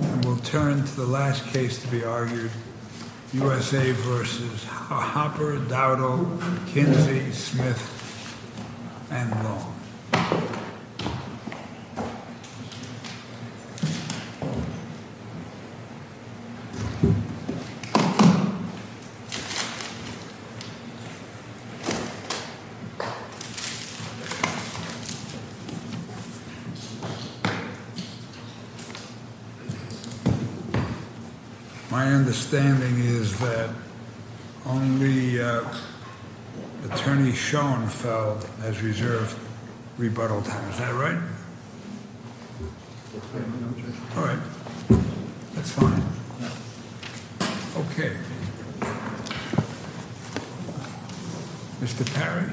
And we'll turn to the last case to be argued, U.S.A. v. Hopper, Dowdell, Kinsey, Smith and Long. My understanding is that only attorney Schoenfeld has reserved rebuttal time. Is that right? All right. That's fine. Okay. Mr. Perry.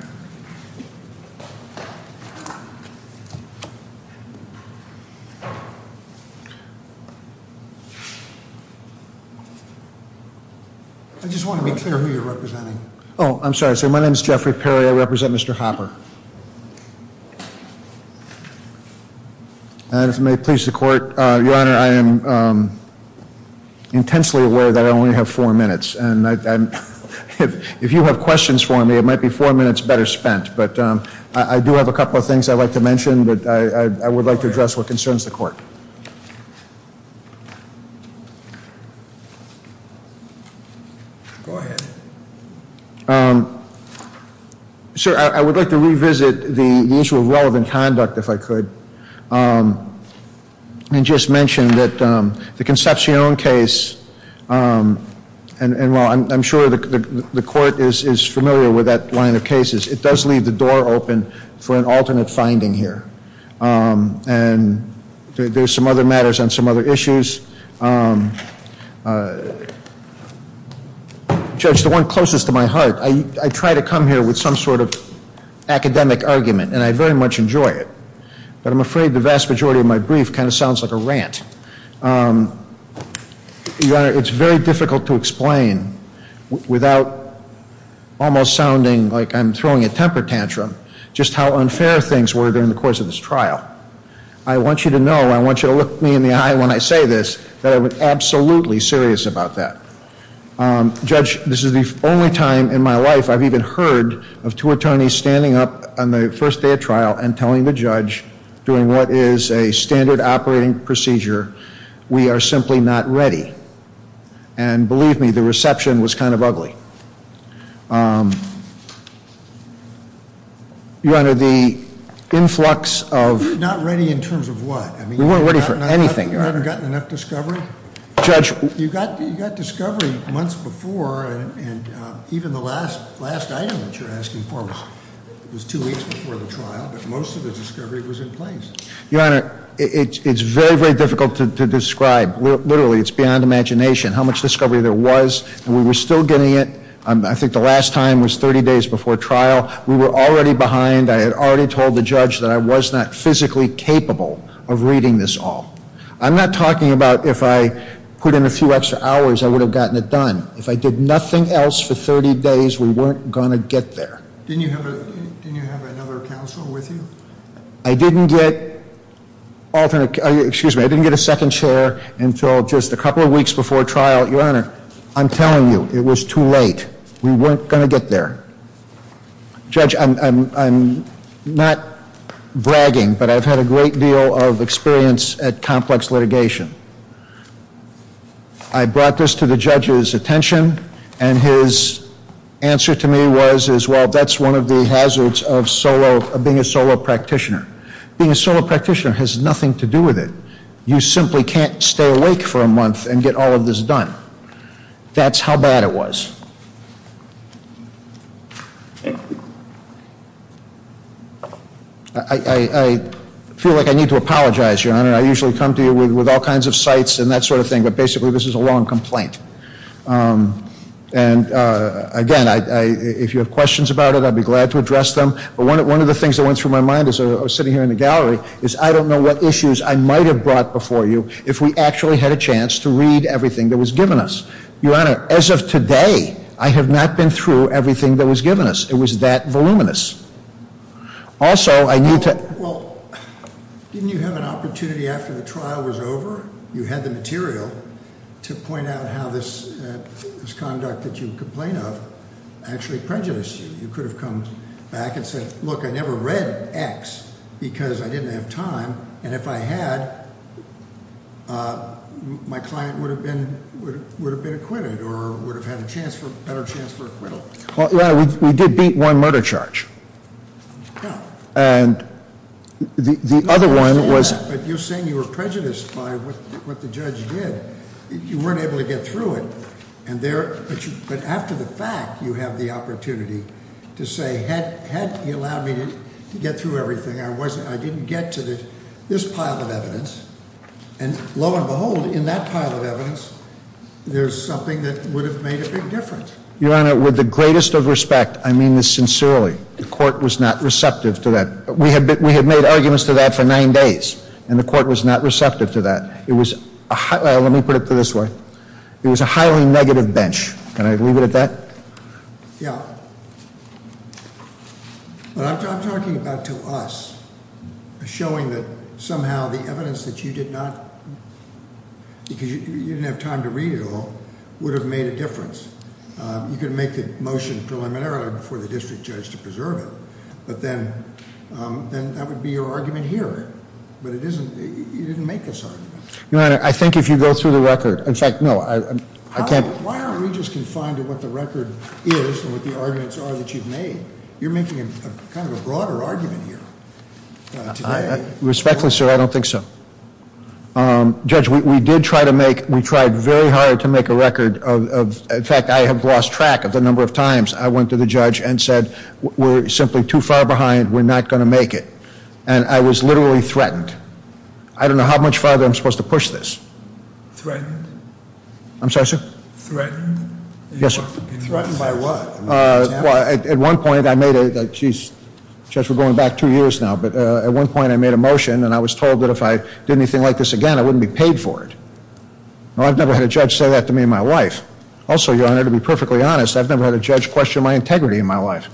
I just want to be clear who you're representing. Oh, I'm sorry. My name is Jeffrey Perry. I represent Mr. Hopper. And if it may please the court, your honor, I am intensely aware that I only have four minutes. And if you have questions for me, it might be four minutes better spent. But I do have a couple of things I'd like to mention, but I would like to address what concerns the court. Go ahead. Okay. Sir, I would like to revisit the issue of relevant conduct, if I could, and just mention that the Concepcion case, and while I'm sure the court is familiar with that line of cases, it does leave the door open for an alternate finding here. And there's some other matters on some other issues. Judge, the one closest to my heart, I try to come here with some sort of academic argument, and I very much enjoy it. But I'm afraid the vast majority of my brief kind of sounds like a rant. Your honor, it's very difficult to explain without almost sounding like I'm throwing a temper tantrum, just how unfair things were during the course of this trial. I want you to know, I want you to look me in the eye when I say this, that I'm absolutely serious about that. Judge, this is the only time in my life I've even heard of two attorneys standing up on the first day of trial and telling the judge during what is a standard operating procedure, we are simply not ready. And believe me, the reception was kind of ugly. Your honor, the influx of- Not ready in terms of what? We weren't ready for anything, your honor. You haven't gotten enough discovery? Judge- You got discovery months before, and even the last item that you're asking for was two weeks before the trial, but most of the discovery was in place. Your honor, it's very, very difficult to describe. Literally, it's beyond imagination how much discovery there was, and we were still getting it. I think the last time was 30 days before trial. We were already behind. I had already told the judge that I was not physically capable of reading this all. I'm not talking about if I put in a few extra hours, I would have gotten it done. If I did nothing else for 30 days, we weren't going to get there. Didn't you have another counsel with you? I didn't get alternate- Excuse me, I didn't get a second chair until just a couple of weeks before trial. Your honor, I'm telling you, it was too late. We weren't going to get there. Judge, I'm not bragging, but I've had a great deal of experience at complex litigation. I brought this to the judge's attention, and his answer to me was, well, that's one of the hazards of being a solo practitioner. Being a solo practitioner has nothing to do with it. You simply can't stay awake for a month and get all of this done. That's how bad it was. I feel like I need to apologize, your honor. I usually come to you with all kinds of sites and that sort of thing, but basically this is a long complaint. Again, if you have questions about it, I'd be glad to address them. One of the things that went through my mind as I was sitting here in the gallery is, I don't know what issues I might have brought before you if we actually had a chance to read everything that was given us. Your honor, as of today, I have not been through everything that was given us. It was that voluminous. Also, I need to- Well, didn't you have an opportunity after the trial was over? You had the material to point out how this conduct that you complain of actually prejudiced you. You could have come back and said, look, I never read X because I didn't have time. And if I had, my client would have been acquitted or would have had a better chance for acquittal. Well, your honor, we did beat one murder charge. No. And the other one was- I understand that, but you're saying you were prejudiced by what the judge did. You weren't able to get through it. But after the fact, you have the opportunity to say, had he allowed me to get through everything, I didn't get to this pile of evidence. And lo and behold, in that pile of evidence, there's something that would have made a big difference. Your honor, with the greatest of respect, I mean this sincerely, the court was not receptive to that. We had made arguments to that for nine days, and the court was not receptive to that. It was a highly- let me put it this way. It was a highly negative bench. Can I leave it at that? Yeah. What I'm talking about to us is showing that somehow the evidence that you did not- would have made a difference. You could make the motion preliminarily before the district judge to preserve it, but then that would be your argument here. But it isn't- you didn't make this argument. Your honor, I think if you go through the record- in fact, no, I can't- Why aren't we just confined to what the record is and what the arguments are that you've made? You're making kind of a broader argument here today. Respectfully, sir, I don't think so. Judge, we did try to make- we tried very hard to make a record of- in fact, I have lost track of the number of times I went to the judge and said, we're simply too far behind, we're not going to make it. And I was literally threatened. I don't know how much farther I'm supposed to push this. Threatened? I'm sorry, sir? Threatened? Yes, sir. Threatened by what? At one point, I made a- jeez, judge, we're going back two years now. But at one point, I made a motion and I was told that if I did anything like this again, I wouldn't be paid for it. I've never had a judge say that to me in my life. Also, your honor, to be perfectly honest, I've never had a judge question my integrity in my life.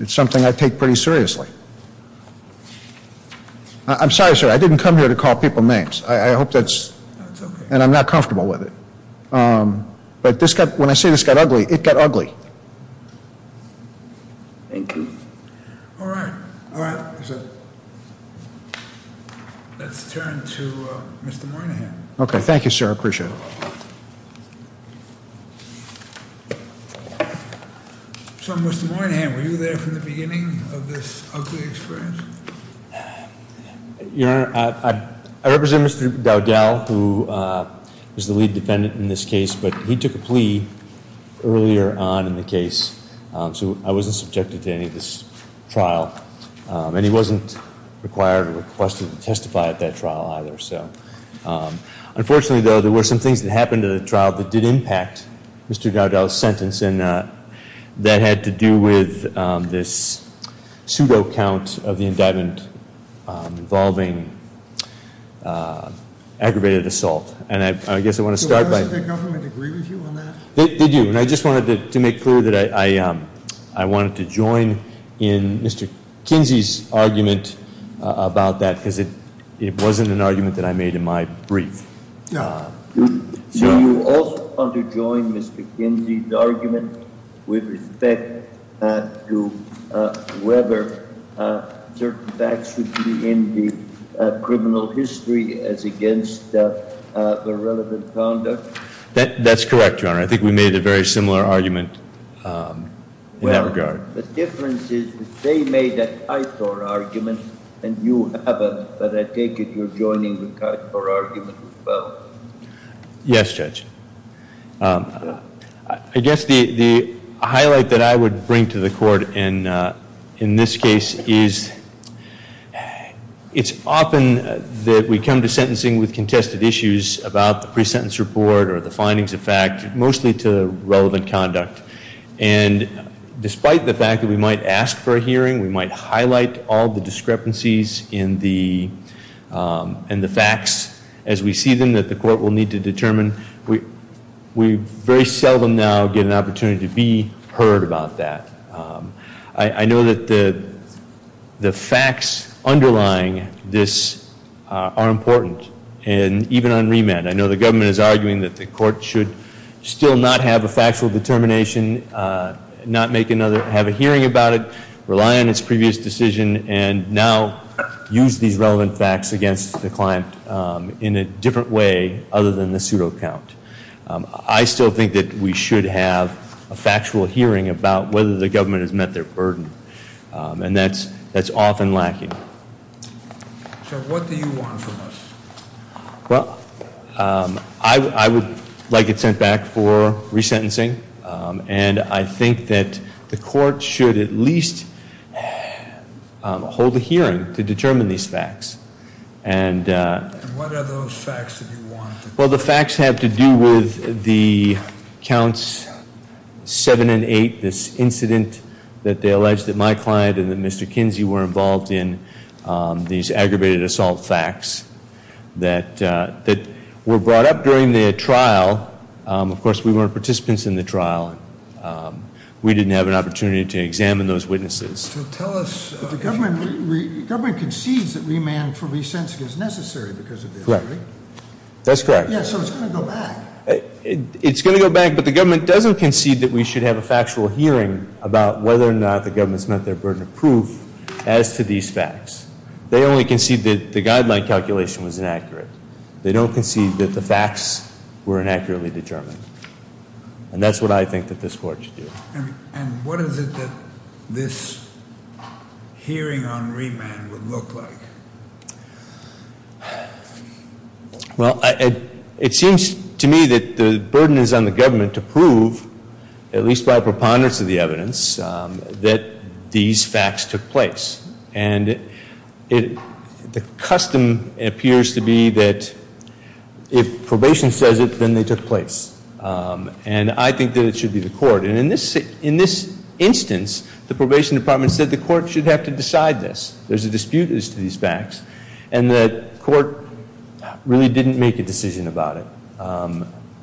It's something I take pretty seriously. I'm sorry, sir, I didn't come here to call people names. I hope that's- That's okay. And I'm not comfortable with it. But this got- when I say this got ugly, it got ugly. Thank you. All right. All right. Let's turn to Mr. Moynihan. Okay, thank you, sir. I appreciate it. So, Mr. Moynihan, were you there from the beginning of this ugly experience? Your honor, I represent Mr. Dowdell, who is the lead defendant in this case, but he took a plea earlier on in the case. So I wasn't subjected to any of this trial. And he wasn't required or requested to testify at that trial either. Unfortunately, though, there were some things that happened at the trial that did impact Mr. Dowdell's sentence, and that had to do with this pseudo count of the indictment involving aggravated assault. And I guess I want to start by- Did the government agree with you on that? They do. And I just wanted to make clear that I wanted to join in Mr. Kinsey's argument about that, because it wasn't an argument that I made in my brief. Do you also want to join Mr. Kinsey's argument with respect to whether certain facts should be in the criminal history as against the relevant conduct? That's correct, your honor. I think we made a very similar argument in that regard. Well, the difference is they made an ITOR argument and you haven't, but I take it you're joining the ITOR argument as well. Yes, Judge. I guess the highlight that I would bring to the court in this case is it's often that we come to sentencing with contested issues about the pre-sentence report or the findings of fact, mostly to relevant conduct. And despite the fact that we might ask for a hearing, we might highlight all the discrepancies in the facts as we see them, that the court will need to determine, we very seldom now get an opportunity to be heard about that. I know that the facts underlying this are important. And even on remand, I know the government is arguing that the court should still not have a factual determination, not make another, have a hearing about it, rely on its previous decision, and now use these relevant facts against the client in a different way other than the pseudo count. I still think that we should have a factual hearing about whether the government has met their burden. And that's often lacking. So what do you want from us? Well, I would like it sent back for resentencing. And I think that the court should at least hold a hearing to determine these facts. And what are those facts that you want? Well, the facts have to do with the counts seven and eight, this incident that they alleged that my client and that Mr. Kinsey were involved in, these aggravated assault facts that were brought up during the trial. Of course, we weren't participants in the trial. We didn't have an opportunity to examine those witnesses. Tell us- The government concedes that remand for resensing is necessary because of this, right? That's correct. Yeah, so it's going to go back. It's going to go back, but the government doesn't concede that we should have a factual hearing about whether or not the government's met their burden of proof as to these facts. They only concede that the guideline calculation was inaccurate. They don't concede that the facts were inaccurately determined. And that's what I think that this court should do. And what is it that this hearing on remand would look like? Well, it seems to me that the burden is on the government to prove, at least by preponderance of the evidence, that these facts took place. And the custom appears to be that if probation says it, then they took place. And I think that it should be the court. And in this instance, the probation department said the court should have to decide this. There's a dispute as to these facts. And the court really didn't make a decision about it.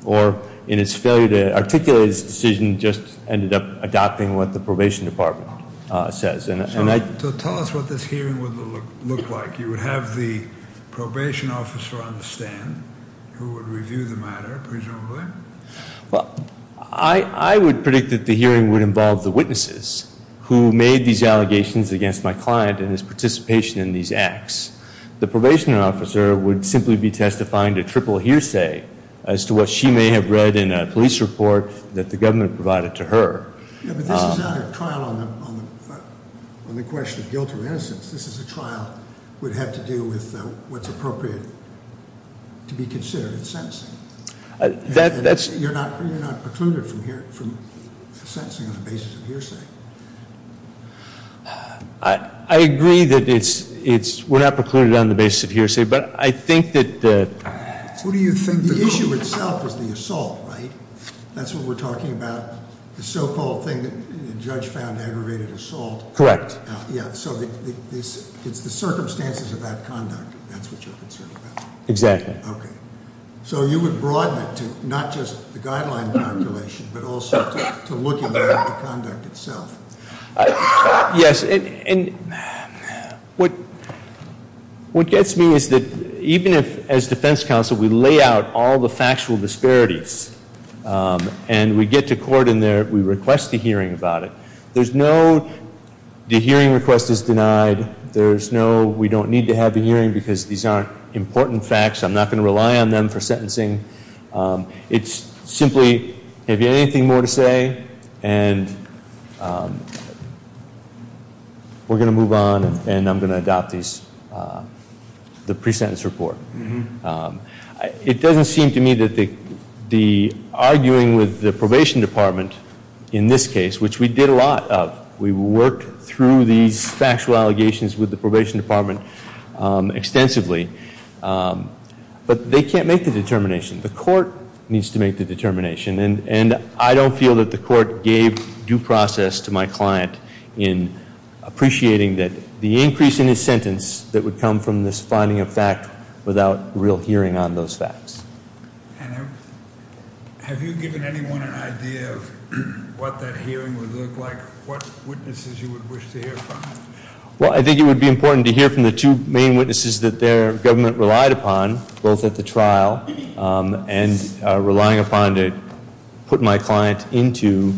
Or in its failure to articulate its decision, just ended up adopting what the probation department says. So tell us what this hearing would look like. You would have the probation officer on the stand who would review the matter, presumably. Well, I would predict that the hearing would involve the witnesses who made these allegations against my client and his participation in these acts. The probation officer would simply be testifying to triple hearsay as to what she may have read in a police report that the government provided to her. Yeah, but this is not a trial on the question of guilt or innocence. This is a trial that would have to do with what's appropriate to be considered in sentencing. You're not precluded from sentencing on the basis of hearsay. I agree that we're not precluded on the basis of hearsay, but I think that- The issue itself is the assault, right? That's what we're talking about. The so-called thing that the judge found aggravated assault. Correct. Yeah, so it's the circumstances of that conduct. That's what you're concerned about. Exactly. Okay, so you would broaden it to not just the guideline calculation, but also to look at the conduct itself. Yes, and what gets me is that even if, as defense counsel, we lay out all the factual disparities and we get to court and we request a hearing about it, the hearing request is denied. We don't need to have a hearing because these aren't important facts. I'm not going to rely on them for sentencing. It's simply, have you anything more to say, and we're going to move on, and I'm going to adopt the pre-sentence report. It doesn't seem to me that the arguing with the probation department in this case, which we did a lot of. We worked through these factual allegations with the probation department extensively, but they can't make the determination. The court needs to make the determination, and I don't feel that the court gave due process to my client in appreciating that the increase in his sentence that would come from this finding of fact without real hearing on those facts. And have you given anyone an idea of what that hearing would look like, what witnesses you would wish to hear from? Well, I think it would be important to hear from the two main witnesses that their government relied upon, both at the trial and relying upon to put my client into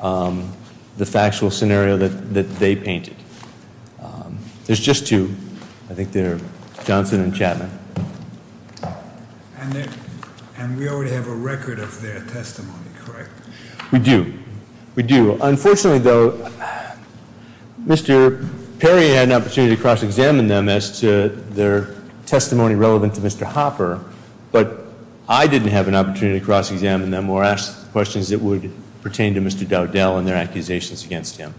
the factual scenario that they painted. There's just two. I think they're Johnson and Chapman. And we already have a record of their testimony, correct? We do. We do. Unfortunately, though, Mr. Perry had an opportunity to cross-examine them as to their testimony relevant to Mr. Hopper, but I didn't have an opportunity to cross-examine them or ask questions that would pertain to Mr. Dowdell and their accusations against him.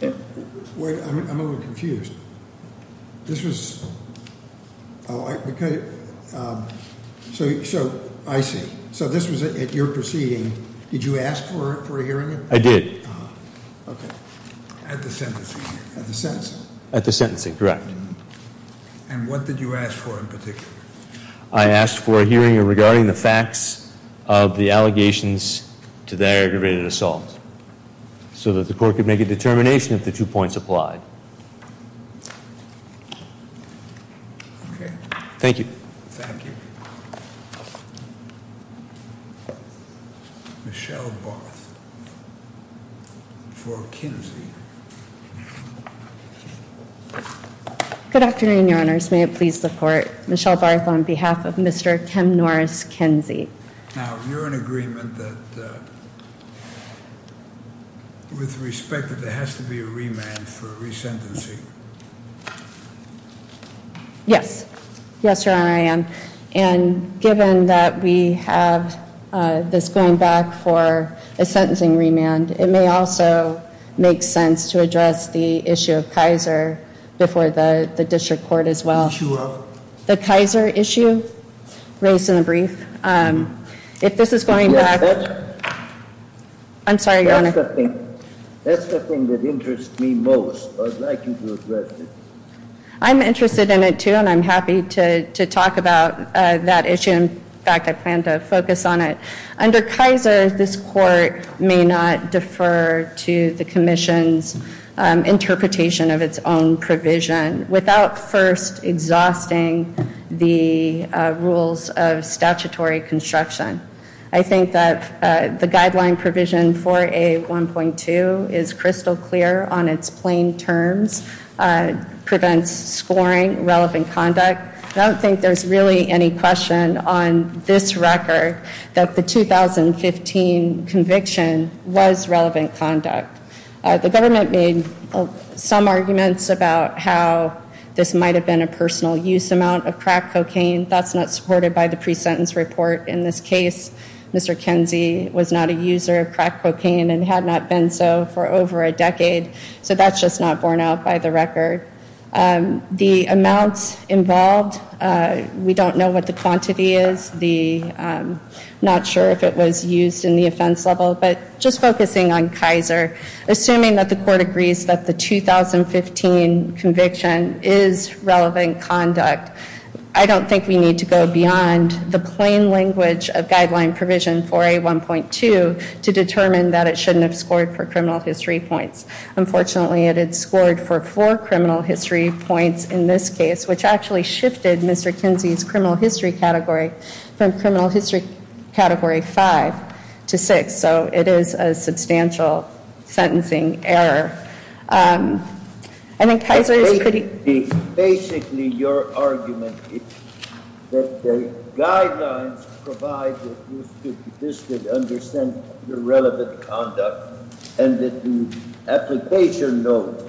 Wait, I'm a little confused. This was, oh, I see. So this was at your proceeding. Did you ask for a hearing? I did. Okay. At the sentencing. At the sentencing. At the sentencing, correct. And what did you ask for in particular? I asked for a hearing regarding the facts of the allegations to the aggravated assault so that the court could make a determination if the two points applied. Okay. Thank you. Thank you. Michelle Barth for Kinsey. Good afternoon, Your Honors. May it please the Court. Michelle Barth on behalf of Mr. Tim Norris Kinsey. Now, you're in agreement that with respect that there has to be a remand for resentencing. Yes. Yes, Your Honor, I am. And given that we have this going back for a sentencing remand, it may also make sense to address the issue of Kaiser before the district court as well. The issue of? The Kaiser issue raised in the brief. If this is going to happen. I'm sorry, Your Honor. That's the thing that interests me most. I'd like you to address it. I'm interested in it, too, and I'm happy to talk about that issue. In fact, I plan to focus on it. Under Kaiser, this court may not defer to the commission's interpretation of its own provision without first exhausting the rules of statutory construction. I think that the guideline provision for a 1.2 is crystal clear on its plain terms, prevents scoring, relevant conduct. I don't think there's really any question on this record that the 2015 conviction was relevant conduct. The government made some arguments about how this might have been a personal use amount of crack cocaine. That's not supported by the pre-sentence report. In this case, Mr. Kinsey was not a user of crack cocaine and had not been so for over a decade. So that's just not borne out by the record. The amounts involved, we don't know what the quantity is. I'm not sure if it was used in the offense level, but just focusing on Kaiser, assuming that the court agrees that the 2015 conviction is relevant conduct, I don't think we need to go beyond the plain language of guideline provision for a 1.2 to determine that it shouldn't have scored for criminal history points. Unfortunately, it had scored for four criminal history points in this case, which actually shifted Mr. Kinsey's criminal history category from criminal history category five to six. So it is a substantial sentencing error. I think Kaiser is pretty— Basically, your argument is that the guidelines provide that you should understand the relevant conduct and that the application note,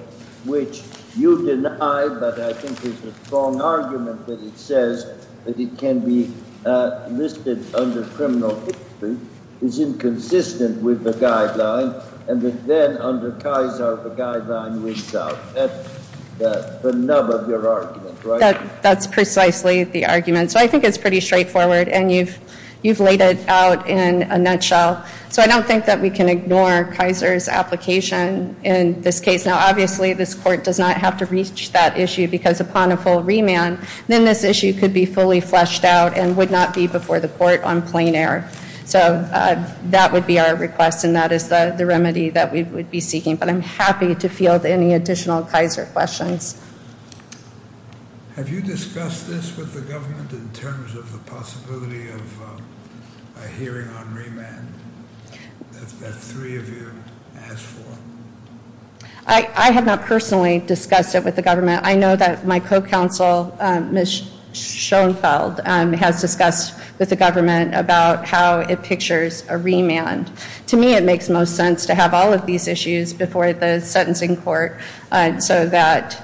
which you deny but I think is a strong argument that it says that it can be listed under criminal history, is inconsistent with the guideline, and then under Kaiser, the guideline wins out. That's the nub of your argument, right? That's precisely the argument. So I think it's pretty straightforward, and you've laid it out in a nutshell. So I don't think that we can ignore Kaiser's application in this case. Now, obviously, this court does not have to reach that issue because upon a full remand, then this issue could be fully fleshed out and would not be before the court on plain error. So that would be our request, and that is the remedy that we would be seeking. But I'm happy to field any additional Kaiser questions. Have you discussed this with the government in terms of the possibility of a hearing on remand that three of you asked for? I have not personally discussed it with the government. I know that my co-counsel, Ms. Schoenfeld, has discussed with the government about how it pictures a remand. To me, it makes most sense to have all of these issues before the sentencing court so that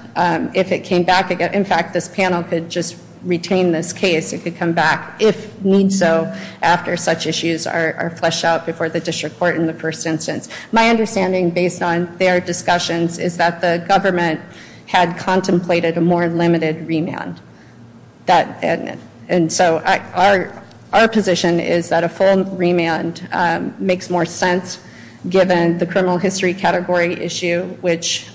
if it came back, in fact, this panel could just retain this case. It could come back, if need so, after such issues are fleshed out before the district court in the first instance. My understanding, based on their discussions, is that the government had contemplated a more limited remand. And so our position is that a full remand makes more sense given the criminal history category issue, which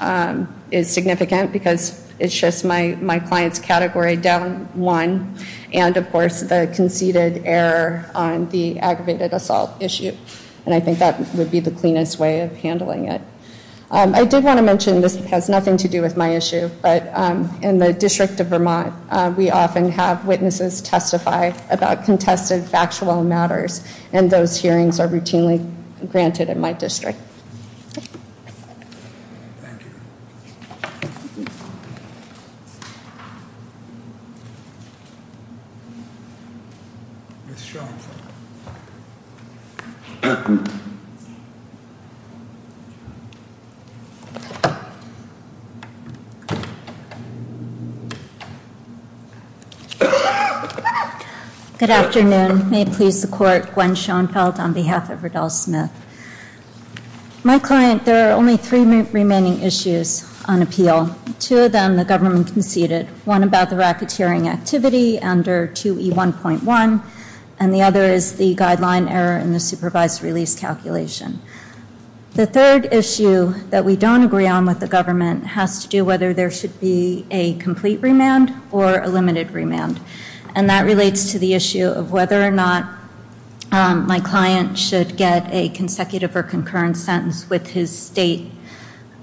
is significant because it shifts my client's category down one, and, of course, the conceded error on the aggravated assault issue. And I think that would be the cleanest way of handling it. I did want to mention this has nothing to do with my issue, but in the District of Vermont, we often have witnesses testify about contested factual matters, and those hearings are routinely granted in my district. Thank you. Ms. Schoenfeld. Good afternoon. May it please the court, Gwen Schoenfeld on behalf of Riddell Smith. My client, there are only three remaining issues on appeal. Two of them the government conceded, one about the racketeering activity under 2E1.1, and the other is the guideline error in the supervised release calculation. The third issue that we don't agree on with the government has to do whether there should be a complete remand or a limited remand. And that relates to the issue of whether or not my client should get a consecutive or concurrent sentence with his state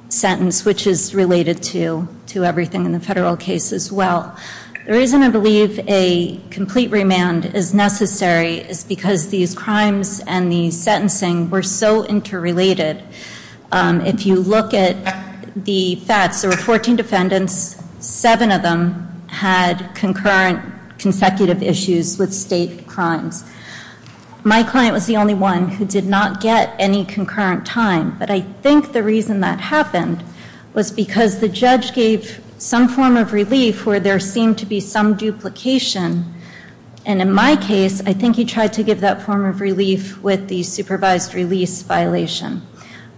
sentence, which is related to everything in the federal case as well. The reason I believe a complete remand is necessary is because these crimes and the sentencing were so interrelated. If you look at the facts, there were 14 defendants. Seven of them had concurrent consecutive issues with state crimes. My client was the only one who did not get any concurrent time, but I think the reason that happened was because the judge gave some form of relief where there seemed to be some duplication. And in my case, I think he tried to give that form of relief with the supervised release violation.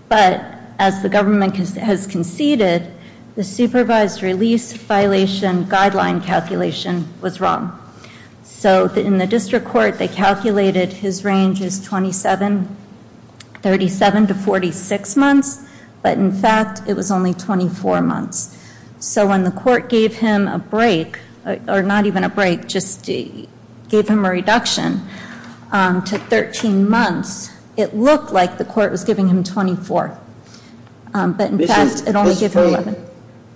But as the government has conceded, the supervised release violation guideline calculation was wrong. So in the district court, they calculated his range is 37 to 46 months, but in fact, it was only 24 months. So when the court gave him a break, or not even a break, just gave him a reduction to 13 months, it looked like the court was giving him 24. But in fact, it only gave him 11.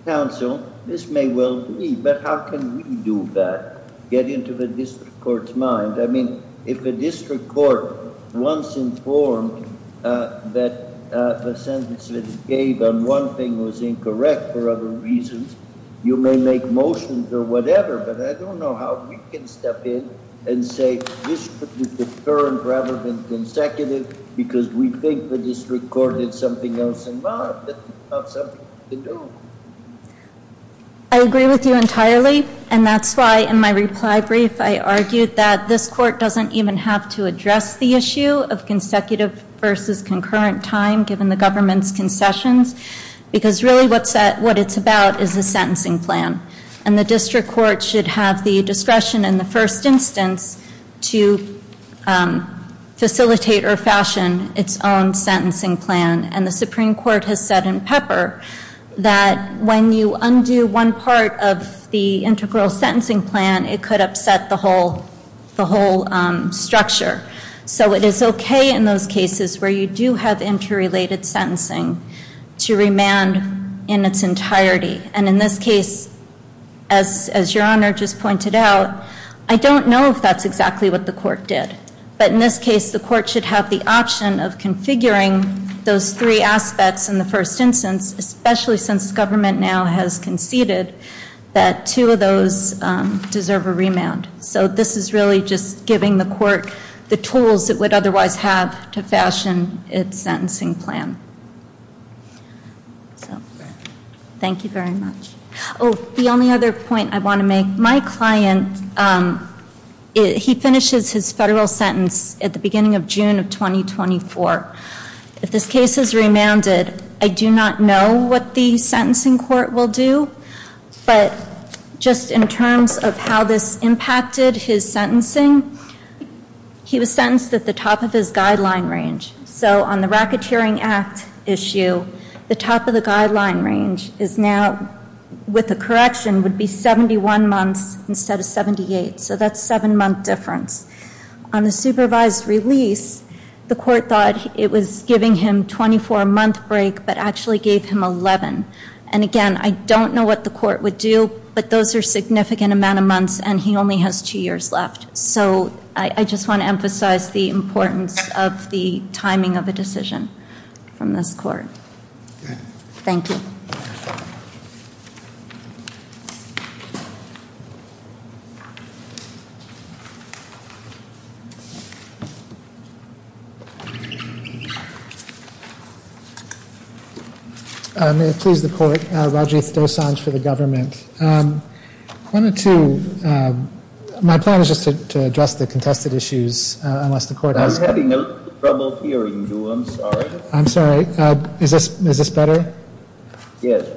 Counsel, this may well be, but how can we do that, get into the district court's mind? I mean, if a district court once informed that the sentence that it gave on one thing was incorrect for other reasons, you may make motions or whatever, but I don't know how we can step in and say, this should be confirmed rather than consecutive, because we think the district court had something else in mind, but it's not something we can do. I agree with you entirely, and that's why in my reply brief, I argued that this court doesn't even have to address the issue of consecutive versus concurrent time, given the government's concessions, because really what it's about is the sentencing plan. And the district court should have the discretion in the first instance to facilitate or fashion its own sentencing plan. And the Supreme Court has said in Pepper that when you undo one part of the integral sentencing plan, it could upset the whole structure. So it is okay in those cases where you do have interrelated sentencing to remand in its entirety. And in this case, as Your Honor just pointed out, I don't know if that's exactly what the court did. But in this case, the court should have the option of configuring those three aspects in the first instance, especially since government now has conceded that two of those deserve a remand. So this is really just giving the court the tools it would otherwise have to fashion its sentencing plan. Thank you very much. Oh, the only other point I want to make, my client, he finishes his federal sentence at the beginning of June of 2024. If this case is remanded, I do not know what the sentencing court will do. But just in terms of how this impacted his sentencing, he was sentenced at the top of his guideline range. So on the Racketeering Act issue, the top of the guideline range is now, with the correction, would be 71 months instead of 78. So that's a seven-month difference. On the supervised release, the court thought it was giving him a 24-month break, but actually gave him 11. And again, I don't know what the court would do, but those are significant amount of months, and he only has two years left. So I just want to emphasize the importance of the timing of a decision from this court. Thank you. May it please the court. Rajiv Dosanjh for the government. One or two. My plan is just to address the contested issues, unless the court has to. I'm having trouble hearing you. I'm sorry. I'm sorry. Is this better? Yes.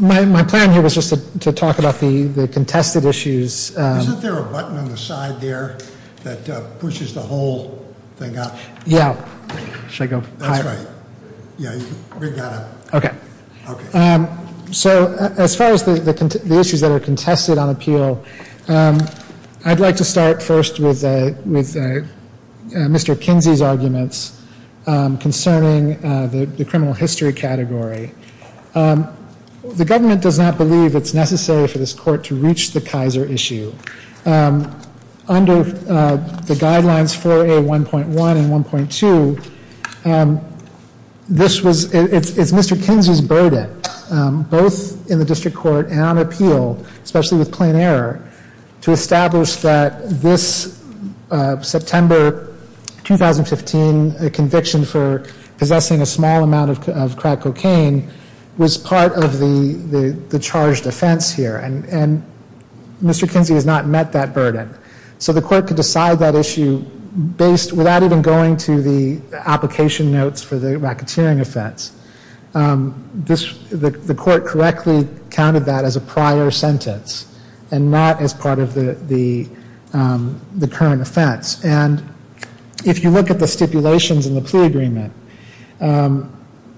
My plan here was just to talk about the contested issues. Isn't there a button on the side there that pushes the whole thing out? Yeah. Should I go higher? That's right. Yeah, you can bring that up. Okay. Okay. So as far as the issues that are contested on appeal, I'd like to start first with Mr. Kinsey's arguments concerning the criminal history category. The government does not believe it's necessary for this court to reach the Kaiser issue. Under the guidelines 4A1.1 and 1.2, it's Mr. Kinsey's burden, both in the district court and on appeal, especially with plain error, to establish that this September 2015 conviction for possessing a small amount of crack cocaine was part of the charged offense here. And Mr. Kinsey has not met that burden. So the court could decide that issue without even going to the application notes for the racketeering offense. The court correctly counted that as a prior sentence and not as part of the current offense. And if you look at the stipulations in the plea agreement,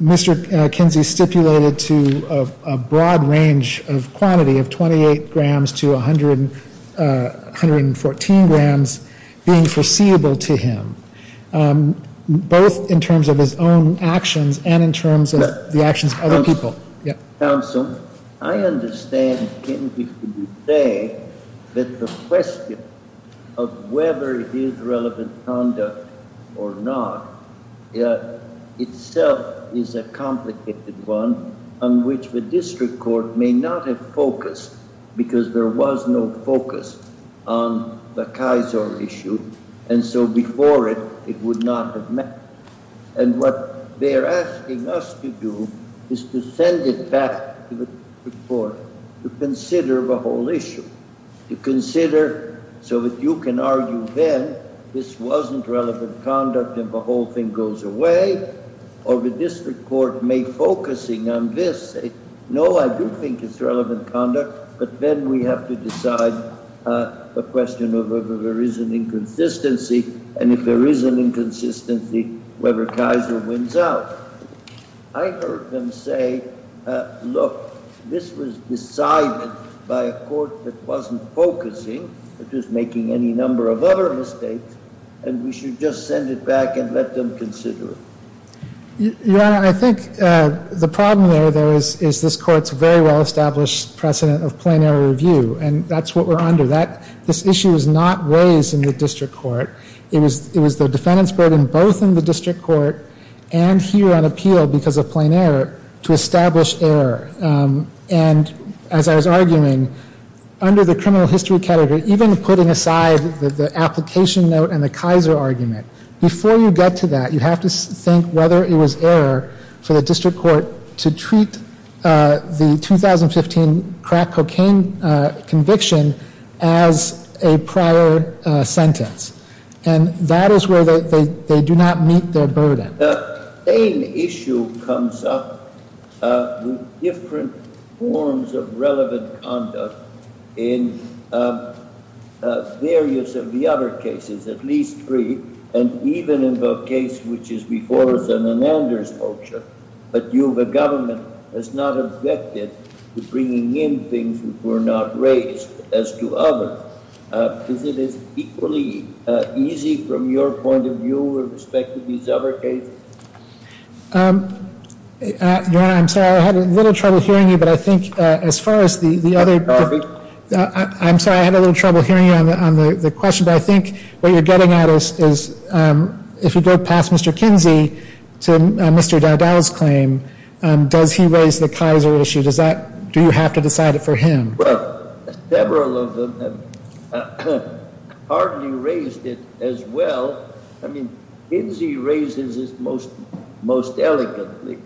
Mr. Kinsey stipulated to a broad range of quantity of 28 grams to 114 grams being foreseeable to him, both in terms of his own actions and in terms of the actions of other people. Counsel, I understand that the question of whether it is relevant conduct or not itself is a complicated one on which the district court may not have focused because there was no focus on the Kaiser issue. And so before it, it would not have met. And what they're asking us to do is to send it back to the district court to consider the whole issue, to consider so that you can argue then this wasn't relevant conduct and the whole thing goes away, or the district court may, focusing on this, say, no, I do think it's relevant conduct, but then we have to decide the question of whether there is an inconsistency. And if there is an inconsistency, whether Kaiser wins out. I heard them say, look, this was decided by a court that wasn't focusing, that was making any number of other mistakes, and we should just send it back and let them consider it. Your Honor, I think the problem there is this court's very well-established precedent of plain error review, and that's what we're under. This issue is not raised in the district court. It was the defendant's burden both in the district court and here on appeal because of plain error to establish error. And as I was arguing, under the criminal history category, even putting aside the application note and the Kaiser argument, before you get to that, you have to think whether it was error for the district court to treat the 2015 crack cocaine conviction as a prior sentence, and that is where they do not meet their burden. The same issue comes up with different forms of relevant conduct in various of the other cases, at least three, and even in the case which is before us on an Anders motion. But you, the government, has not objected to bringing in things which were not raised. As to others, is it equally easy from your point of view with respect to these other cases? Your Honor, I'm sorry, I had a little trouble hearing you, but I think as far as the other... I'm sorry, I had a little trouble hearing you on the question, but I think what you're getting at is, if you go past Mr. Kinsey to Mr. Dowdell's claim, does he raise the Kaiser issue? Do you have to decide it for him? Well, several of them have hardly raised it as well. I mean, Kinsey raises it most elegantly.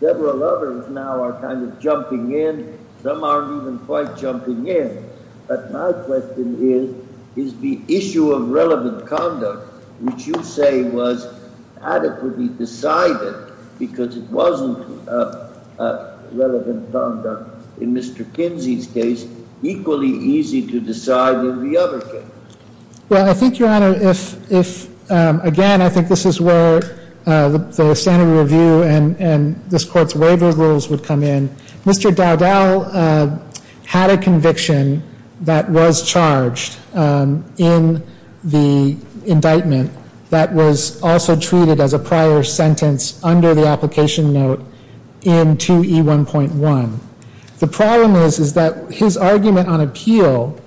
Several others now are kind of jumping in. Some aren't even quite jumping in. But my question is, is the issue of relevant conduct, which you say was adequately decided because it wasn't relevant conduct in Mr. Kinsey's case, equally easy to decide in the other case? Well, I think, Your Honor, if, again, I think this is where the standard review and this Court's waiver rules would come in. Mr. Dowdell had a conviction that was charged in the indictment that was also treated as a prior sentence under the application note in 2E1.1. The problem is that his argument on appeal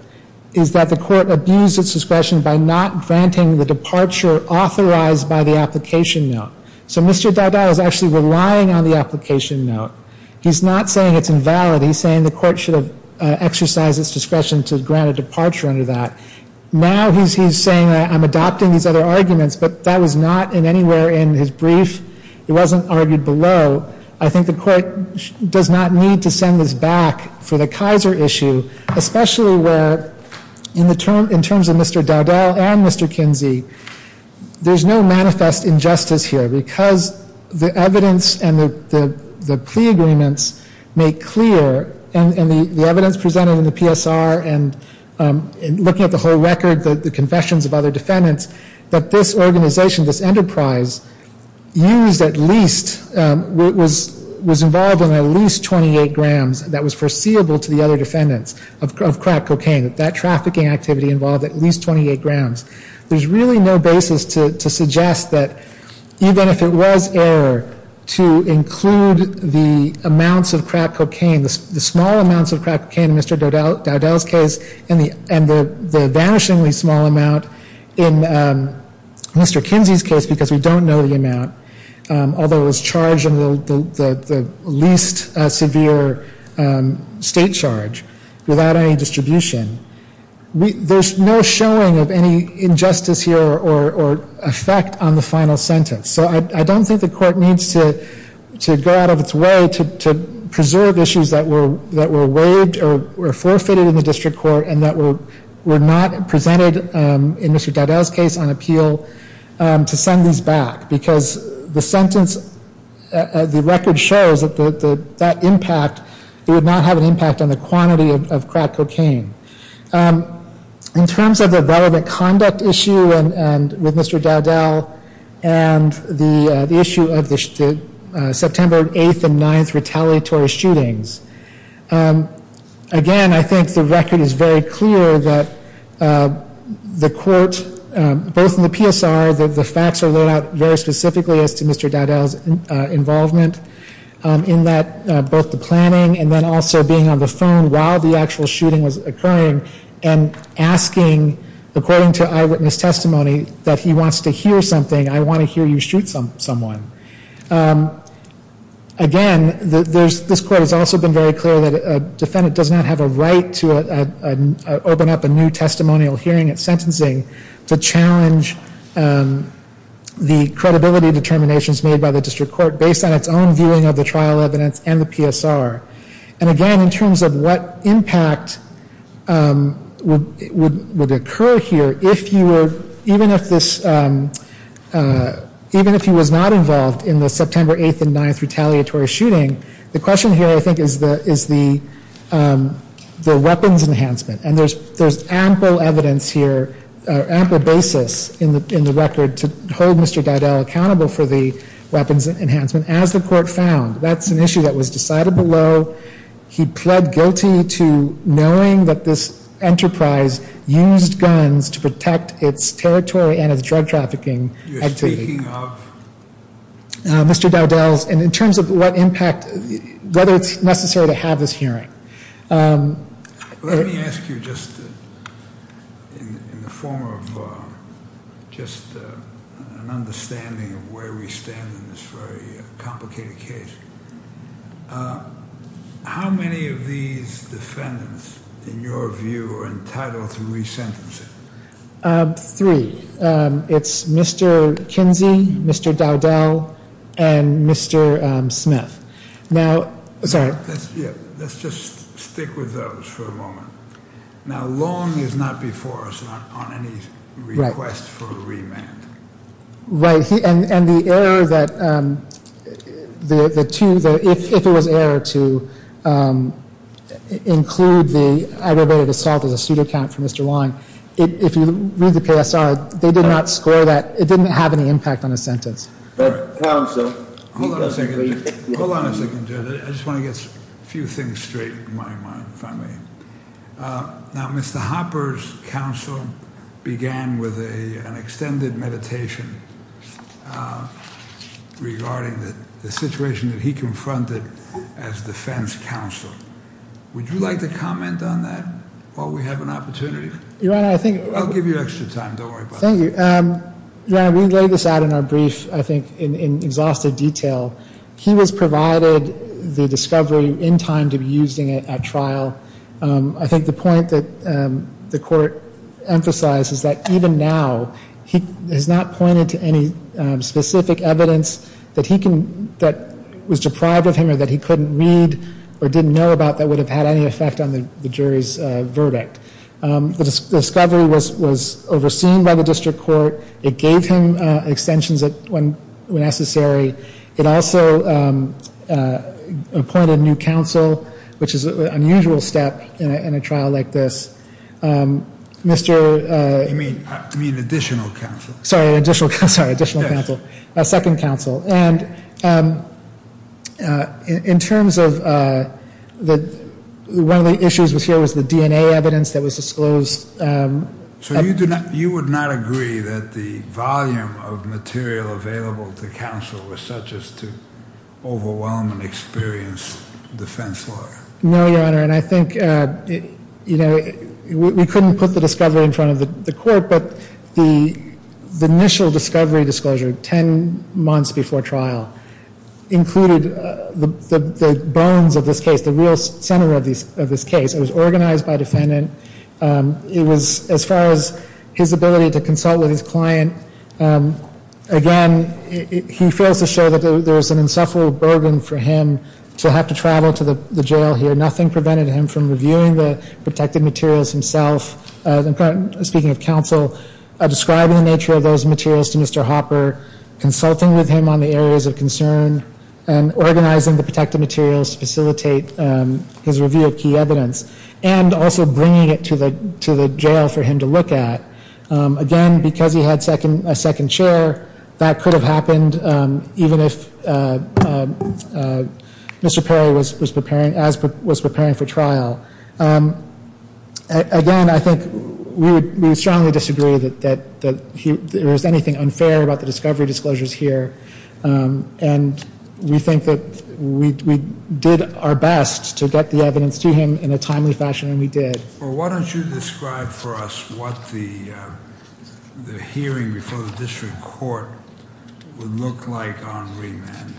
is that the Court abused its discretion by not granting the departure authorized by the application note. So Mr. Dowdell is actually relying on the application note. He's not saying it's invalid. He's saying the Court should have exercised its discretion to grant a departure under that. Now he's saying that I'm adopting these other arguments, but that was not anywhere in his brief. It wasn't argued below. So I think the Court does not need to send this back for the Kaiser issue, especially where in terms of Mr. Dowdell and Mr. Kinsey, there's no manifest injustice here because the evidence and the plea agreements make clear, and the evidence presented in the PSR and looking at the whole record, the confessions of other defendants, that this organization, this enterprise used at least, was involved in at least 28 grams that was foreseeable to the other defendants of crack cocaine, that that trafficking activity involved at least 28 grams. There's really no basis to suggest that even if it was error to include the amounts of crack cocaine, the small amounts of crack cocaine in Mr. Dowdell's case and the vanishingly small amount in Mr. Kinsey's case because we don't know the amount, although it was charged in the least severe state charge without any distribution, there's no showing of any injustice here or effect on the final sentence. So I don't think the Court needs to go out of its way to preserve issues that were waived or forfeited in the District Court and that were not presented in Mr. Dowdell's case on appeal to send these back because the sentence, the record shows that that impact, it would not have an impact on the quantity of crack cocaine. In terms of the relevant conduct issue with Mr. Dowdell and the issue of the September 8th and 9th retaliatory shootings, again, I think the record is very clear that the Court, both in the PSR, the facts are laid out very specifically as to Mr. Dowdell's involvement in that, both the planning and then also being on the phone while the actual shooting was occurring and asking, according to eyewitness testimony, that he wants to hear something. I want to hear you shoot someone. Again, this Court has also been very clear that a defendant does not have a right to open up a new testimonial hearing at sentencing to challenge the credibility determinations made by the District Court based on its own viewing of the trial evidence and the PSR. And again, in terms of what impact would occur here, even if he was not involved in the September 8th and 9th retaliatory shooting, the question here, I think, is the weapons enhancement. And there's ample evidence here, ample basis in the record to hold Mr. Dowdell accountable for the weapons enhancement. As the Court found, that's an issue that was decided below. He pled guilty to knowing that this enterprise used guns to protect its territory and its drug trafficking activity. You're speaking of? Mr. Dowdell's, and in terms of what impact, whether it's necessary to have this hearing. Let me ask you just in the form of just an understanding of where we stand in this very complicated case. How many of these defendants, in your view, are entitled to re-sentencing? Three. It's Mr. Kinsey, Mr. Dowdell, and Mr. Smith. Now, sorry. Let's just stick with those for a moment. Now, Long is not before us on any request for a remand. Right. And the error that the two, if it was an error to include the aggravated assault as a pseudocount for Mr. Long, if you read the PSR, they did not score that. It didn't have any impact on his sentence. But counsel. Hold on a second, Judge. I just want to get a few things straight in my mind, if I may. Now, Mr. Hopper's counsel began with an extended meditation regarding the situation that he confronted as defense counsel. Would you like to comment on that while we have an opportunity? Your Honor, I think- I'll give you extra time. Don't worry about it. Thank you. Your Honor, we laid this out in our brief, I think, in exhaustive detail. He was provided the discovery in time to be used in a trial. I think the point that the court emphasized is that even now, he has not pointed to any specific evidence that he can, that was deprived of him or that he couldn't read or didn't know about that would have had any effect on the jury's verdict. The discovery was overseen by the district court. It gave him extensions when necessary. It also appointed new counsel, which is an unusual step in a trial like this. You mean additional counsel? Sorry, additional counsel. Yes. A second counsel. And in terms of one of the issues here was the DNA evidence that was disclosed. So you would not agree that the volume of material available to counsel was such as to overwhelm an experienced defense lawyer? No, Your Honor, and I think, you know, we couldn't put the discovery in front of the court, but the initial discovery disclosure 10 months before trial included the bones of this case, the real center of this case. It was organized by defendant. It was, as far as his ability to consult with his client, again, he fails to show that there is an insufferable burden for him to have to travel to the jail here. Nothing prevented him from reviewing the protected materials himself. Speaking of counsel, describing the nature of those materials to Mr. Hopper, consulting with him on the areas of concern, and organizing the protected materials to facilitate his review of key evidence, and also bringing it to the jail for him to look at, again, because he had a second chair, that could have happened even if Mr. Perry was preparing for trial. Again, I think we would strongly disagree that there is anything unfair about the discovery disclosures here. And we think that we did our best to get the evidence to him in a timely fashion, and we did. Well, why don't you describe for us what the hearing before the district court would look like on remand.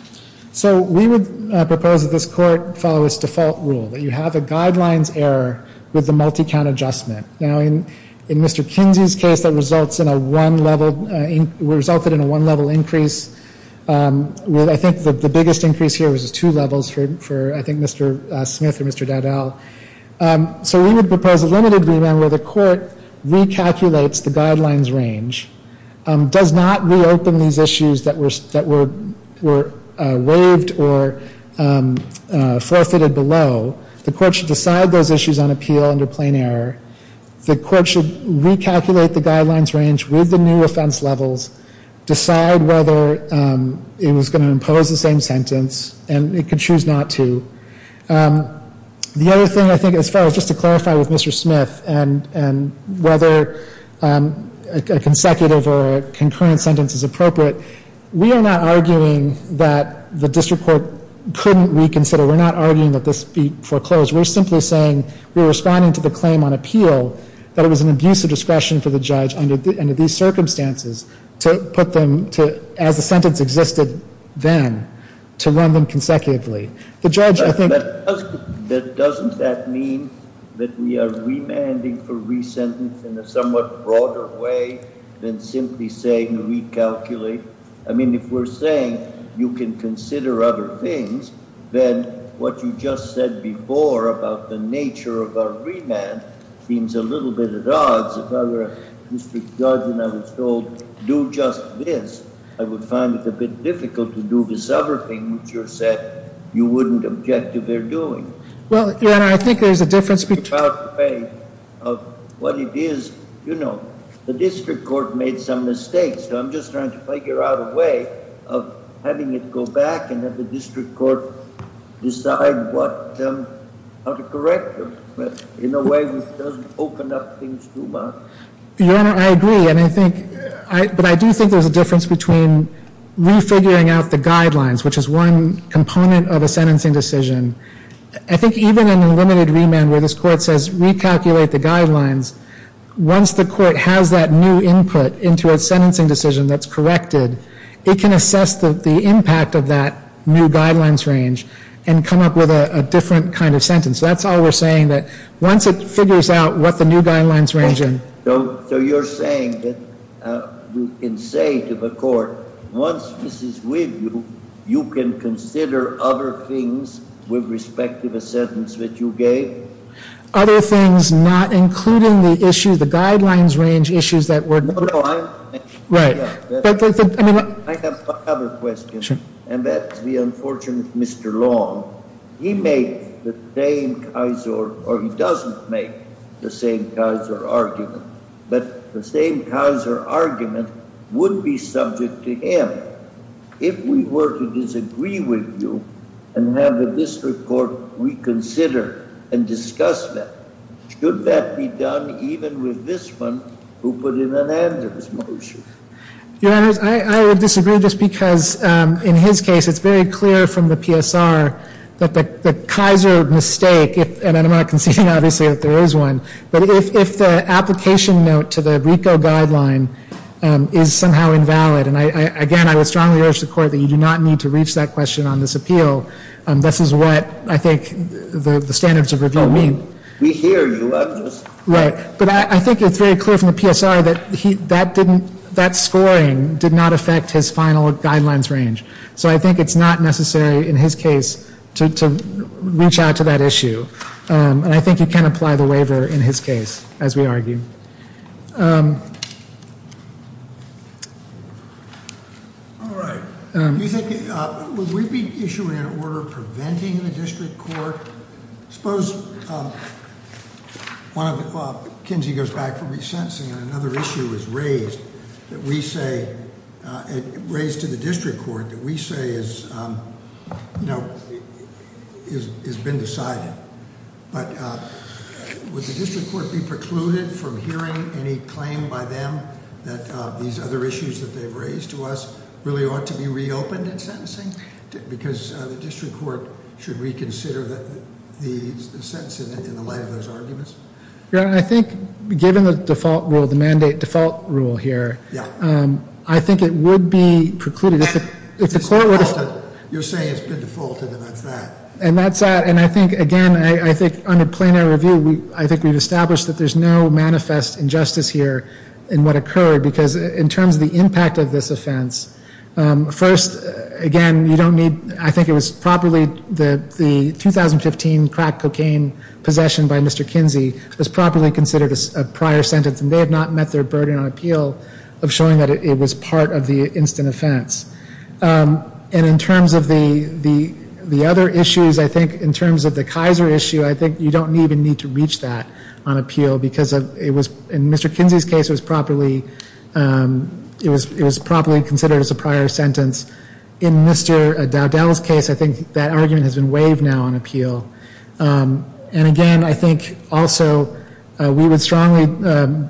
So we would propose that this court follow its default rule, that you have a guidelines error with the multi-count adjustment. Now, in Mr. Kinsey's case, that resulted in a one-level increase. I think the biggest increase here was two levels for, I think, Mr. Smith or Mr. Dowdell. So we would propose a limited remand where the court recalculates the guidelines range, does not reopen these issues that were waived or forfeited below. The court should decide those issues on appeal under plain error. The court should recalculate the guidelines range with the new offense levels, decide whether it was going to impose the same sentence, and it could choose not to. The other thing, I think, as far as just to clarify with Mr. Smith, and whether a consecutive or a concurrent sentence is appropriate, we are not arguing that the district court couldn't reconsider. We're not arguing that this be foreclosed. We're simply saying we're responding to the claim on appeal that it was an abuse of discretion for the judge under these circumstances to put them to, as the sentence existed then, to run them consecutively. The judge, I think— But doesn't that mean that we are remanding for re-sentence in a somewhat broader way than simply saying recalculate? I mean, if we're saying you can consider other things, then what you just said before about the nature of our remand seems a little bit at odds. If I were a district judge and I was told, do just this, I would find it a bit difficult to do this other thing which you said you wouldn't object to their doing. Well, Your Honor, I think there's a difference between— About what it is, you know, the district court made some mistakes. I'm just trying to figure out a way of having it go back and have the district court decide what—how to correct them in a way which doesn't open up things too much. Your Honor, I agree, and I think— But I do think there's a difference between re-figuring out the guidelines, which is one component of a sentencing decision. I think even in a limited remand where this court says recalculate the guidelines, once the court has that new input into a sentencing decision that's corrected, it can assess the impact of that new guidelines range and come up with a different kind of sentence. That's all we're saying, that once it figures out what the new guidelines range in— So you're saying that you can say to the court, once this is with you, you can consider other things with respect to the sentence that you gave? Other things, not including the issue—the guidelines range issues that were— No, no, I'm— Right. I have one other question, and that's the unfortunate Mr. Long. He made the same Keiser—or he doesn't make the same Keiser argument, but the same Keiser argument would be subject to him. If we were to disagree with you and have the district court reconsider and discuss that, should that be done even with this one who put in an Andrews motion? Your Honors, I would disagree just because in his case it's very clear from the PSR that the Keiser mistake—and I'm not conceding, obviously, that there is one— but if the application note to the RICO guideline is somehow invalid, and, again, I would strongly urge the court that you do not need to reach that question on this appeal, this is what I think the standards of review mean. We hear you, Your Honors. Right. But I think it's very clear from the PSR that that scoring did not affect his final guidelines range. So I think it's not necessary in his case to reach out to that issue. And I think you can apply the waiver in his case, as we argue. All right. Do you think—would we be issuing an order preventing the district court? Suppose Kinsey goes back from resentencing and another issue is raised that we say— but would the district court be precluded from hearing any claim by them that these other issues that they've raised to us really ought to be reopened in sentencing? Because the district court should reconsider the sentence in the light of those arguments? Your Honor, I think, given the default rule, the mandate default rule here, I think it would be precluded. If the court were to— It's defaulted. You're saying it's been defaulted, and that's that. And that's that. And I think, again, I think under plenary review, I think we've established that there's no manifest injustice here in what occurred. Because in terms of the impact of this offense, first, again, you don't need— I think it was properly—the 2015 crack cocaine possession by Mr. Kinsey was properly considered a prior sentence, and they have not met their burden on appeal of showing that it was part of the instant offense. And in terms of the other issues, I think in terms of the Kaiser issue, I think you don't even need to reach that on appeal because it was— in Mr. Kinsey's case, it was properly considered as a prior sentence. In Mr. Dowdell's case, I think that argument has been waived now on appeal. And, again, I think also we would strongly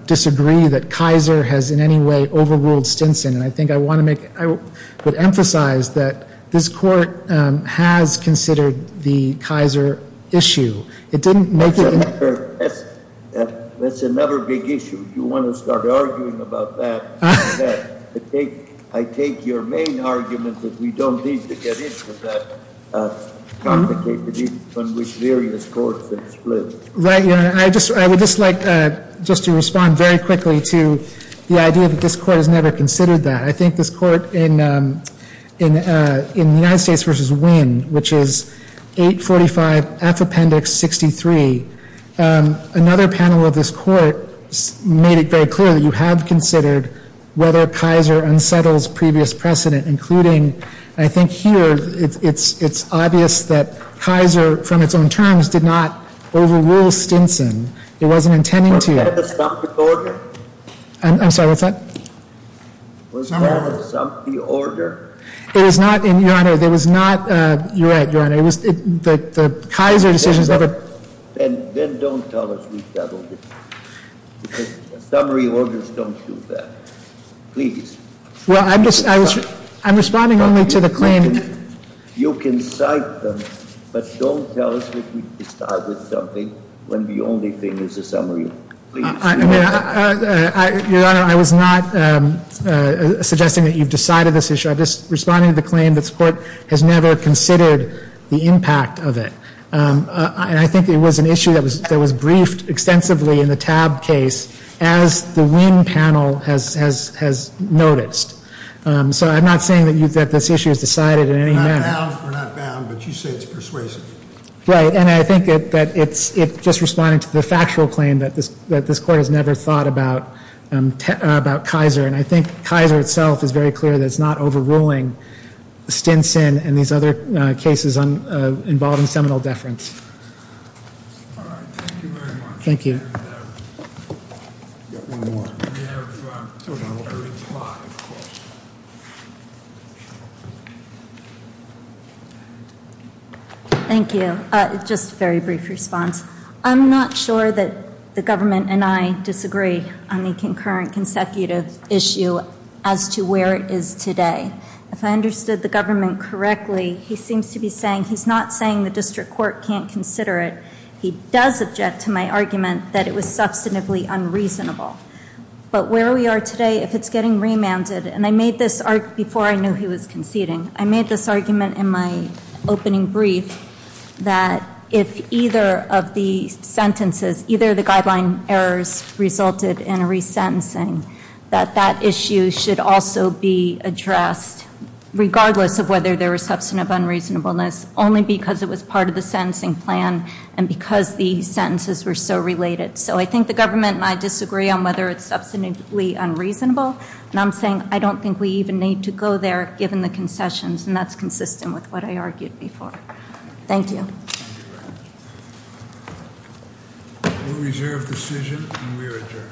disagree that Kaiser has in any way overruled Stinson. And I think I want to make—I would emphasize that this court has considered the Kaiser issue. It didn't make it— That's another big issue. If you want to start arguing about that, I take your main argument that we don't need to get into that complicated issue on which various courts have split. Right, Your Honor. I would just like just to respond very quickly to the idea that this court has never considered that. I think this court in the United States v. Wynne, which is 845F Appendix 63, another panel of this court made it very clear that you have considered whether Kaiser unsettles previous precedent, including—I think here it's obvious that Kaiser, from its own terms, did not overrule Stinson. It wasn't intending to— Was that an assumptive order? I'm sorry, what's that? Was that an assumptive order? It was not, Your Honor. It was not—you're right, Your Honor. It was—the Kaiser decisions never— Then don't tell us we doubled it. Because summary orders don't do that. Please. Well, I'm just—I'm responding only to the claim— You can cite them, but don't tell us that we started something when the only thing is a summary. Please. Your Honor, I was not suggesting that you've decided this issue. I'm just responding to the claim that this court has never considered the impact of it. And I think it was an issue that was briefed extensively in the TAB case as the Wien panel has noticed. So I'm not saying that this issue is decided in any manner. We're not bound, but you say it's persuasive. Right, and I think that it's just responding to the factual claim that this court has never thought about Kaiser. And I think Kaiser itself is very clear that it's not overruling Stinson and these other cases involved in seminal deference. All right, thank you very much. Thank you. We have one more. We have total 35 questions. Thank you. Just a very brief response. I'm not sure that the government and I disagree on the concurrent consecutive issue as to where it is today. If I understood the government correctly, he seems to be saying he's not saying the district court can't consider it. He does object to my argument that it was substantively unreasonable. But where we are today, if it's getting remanded, and I made this argument before I knew he was conceding. I made this argument in my opening brief that if either of the sentences, either of the guideline errors resulted in a resentencing, that that issue should also be addressed regardless of whether there was substantive unreasonableness, only because it was part of the sentencing plan and because the sentences were so related. So I think the government and I disagree on whether it's substantively unreasonable. And I'm saying I don't think we even need to go there, given the concessions. And that's consistent with what I argued before. Thank you. We reserve decision and we are adjourned. The court is now adjourned.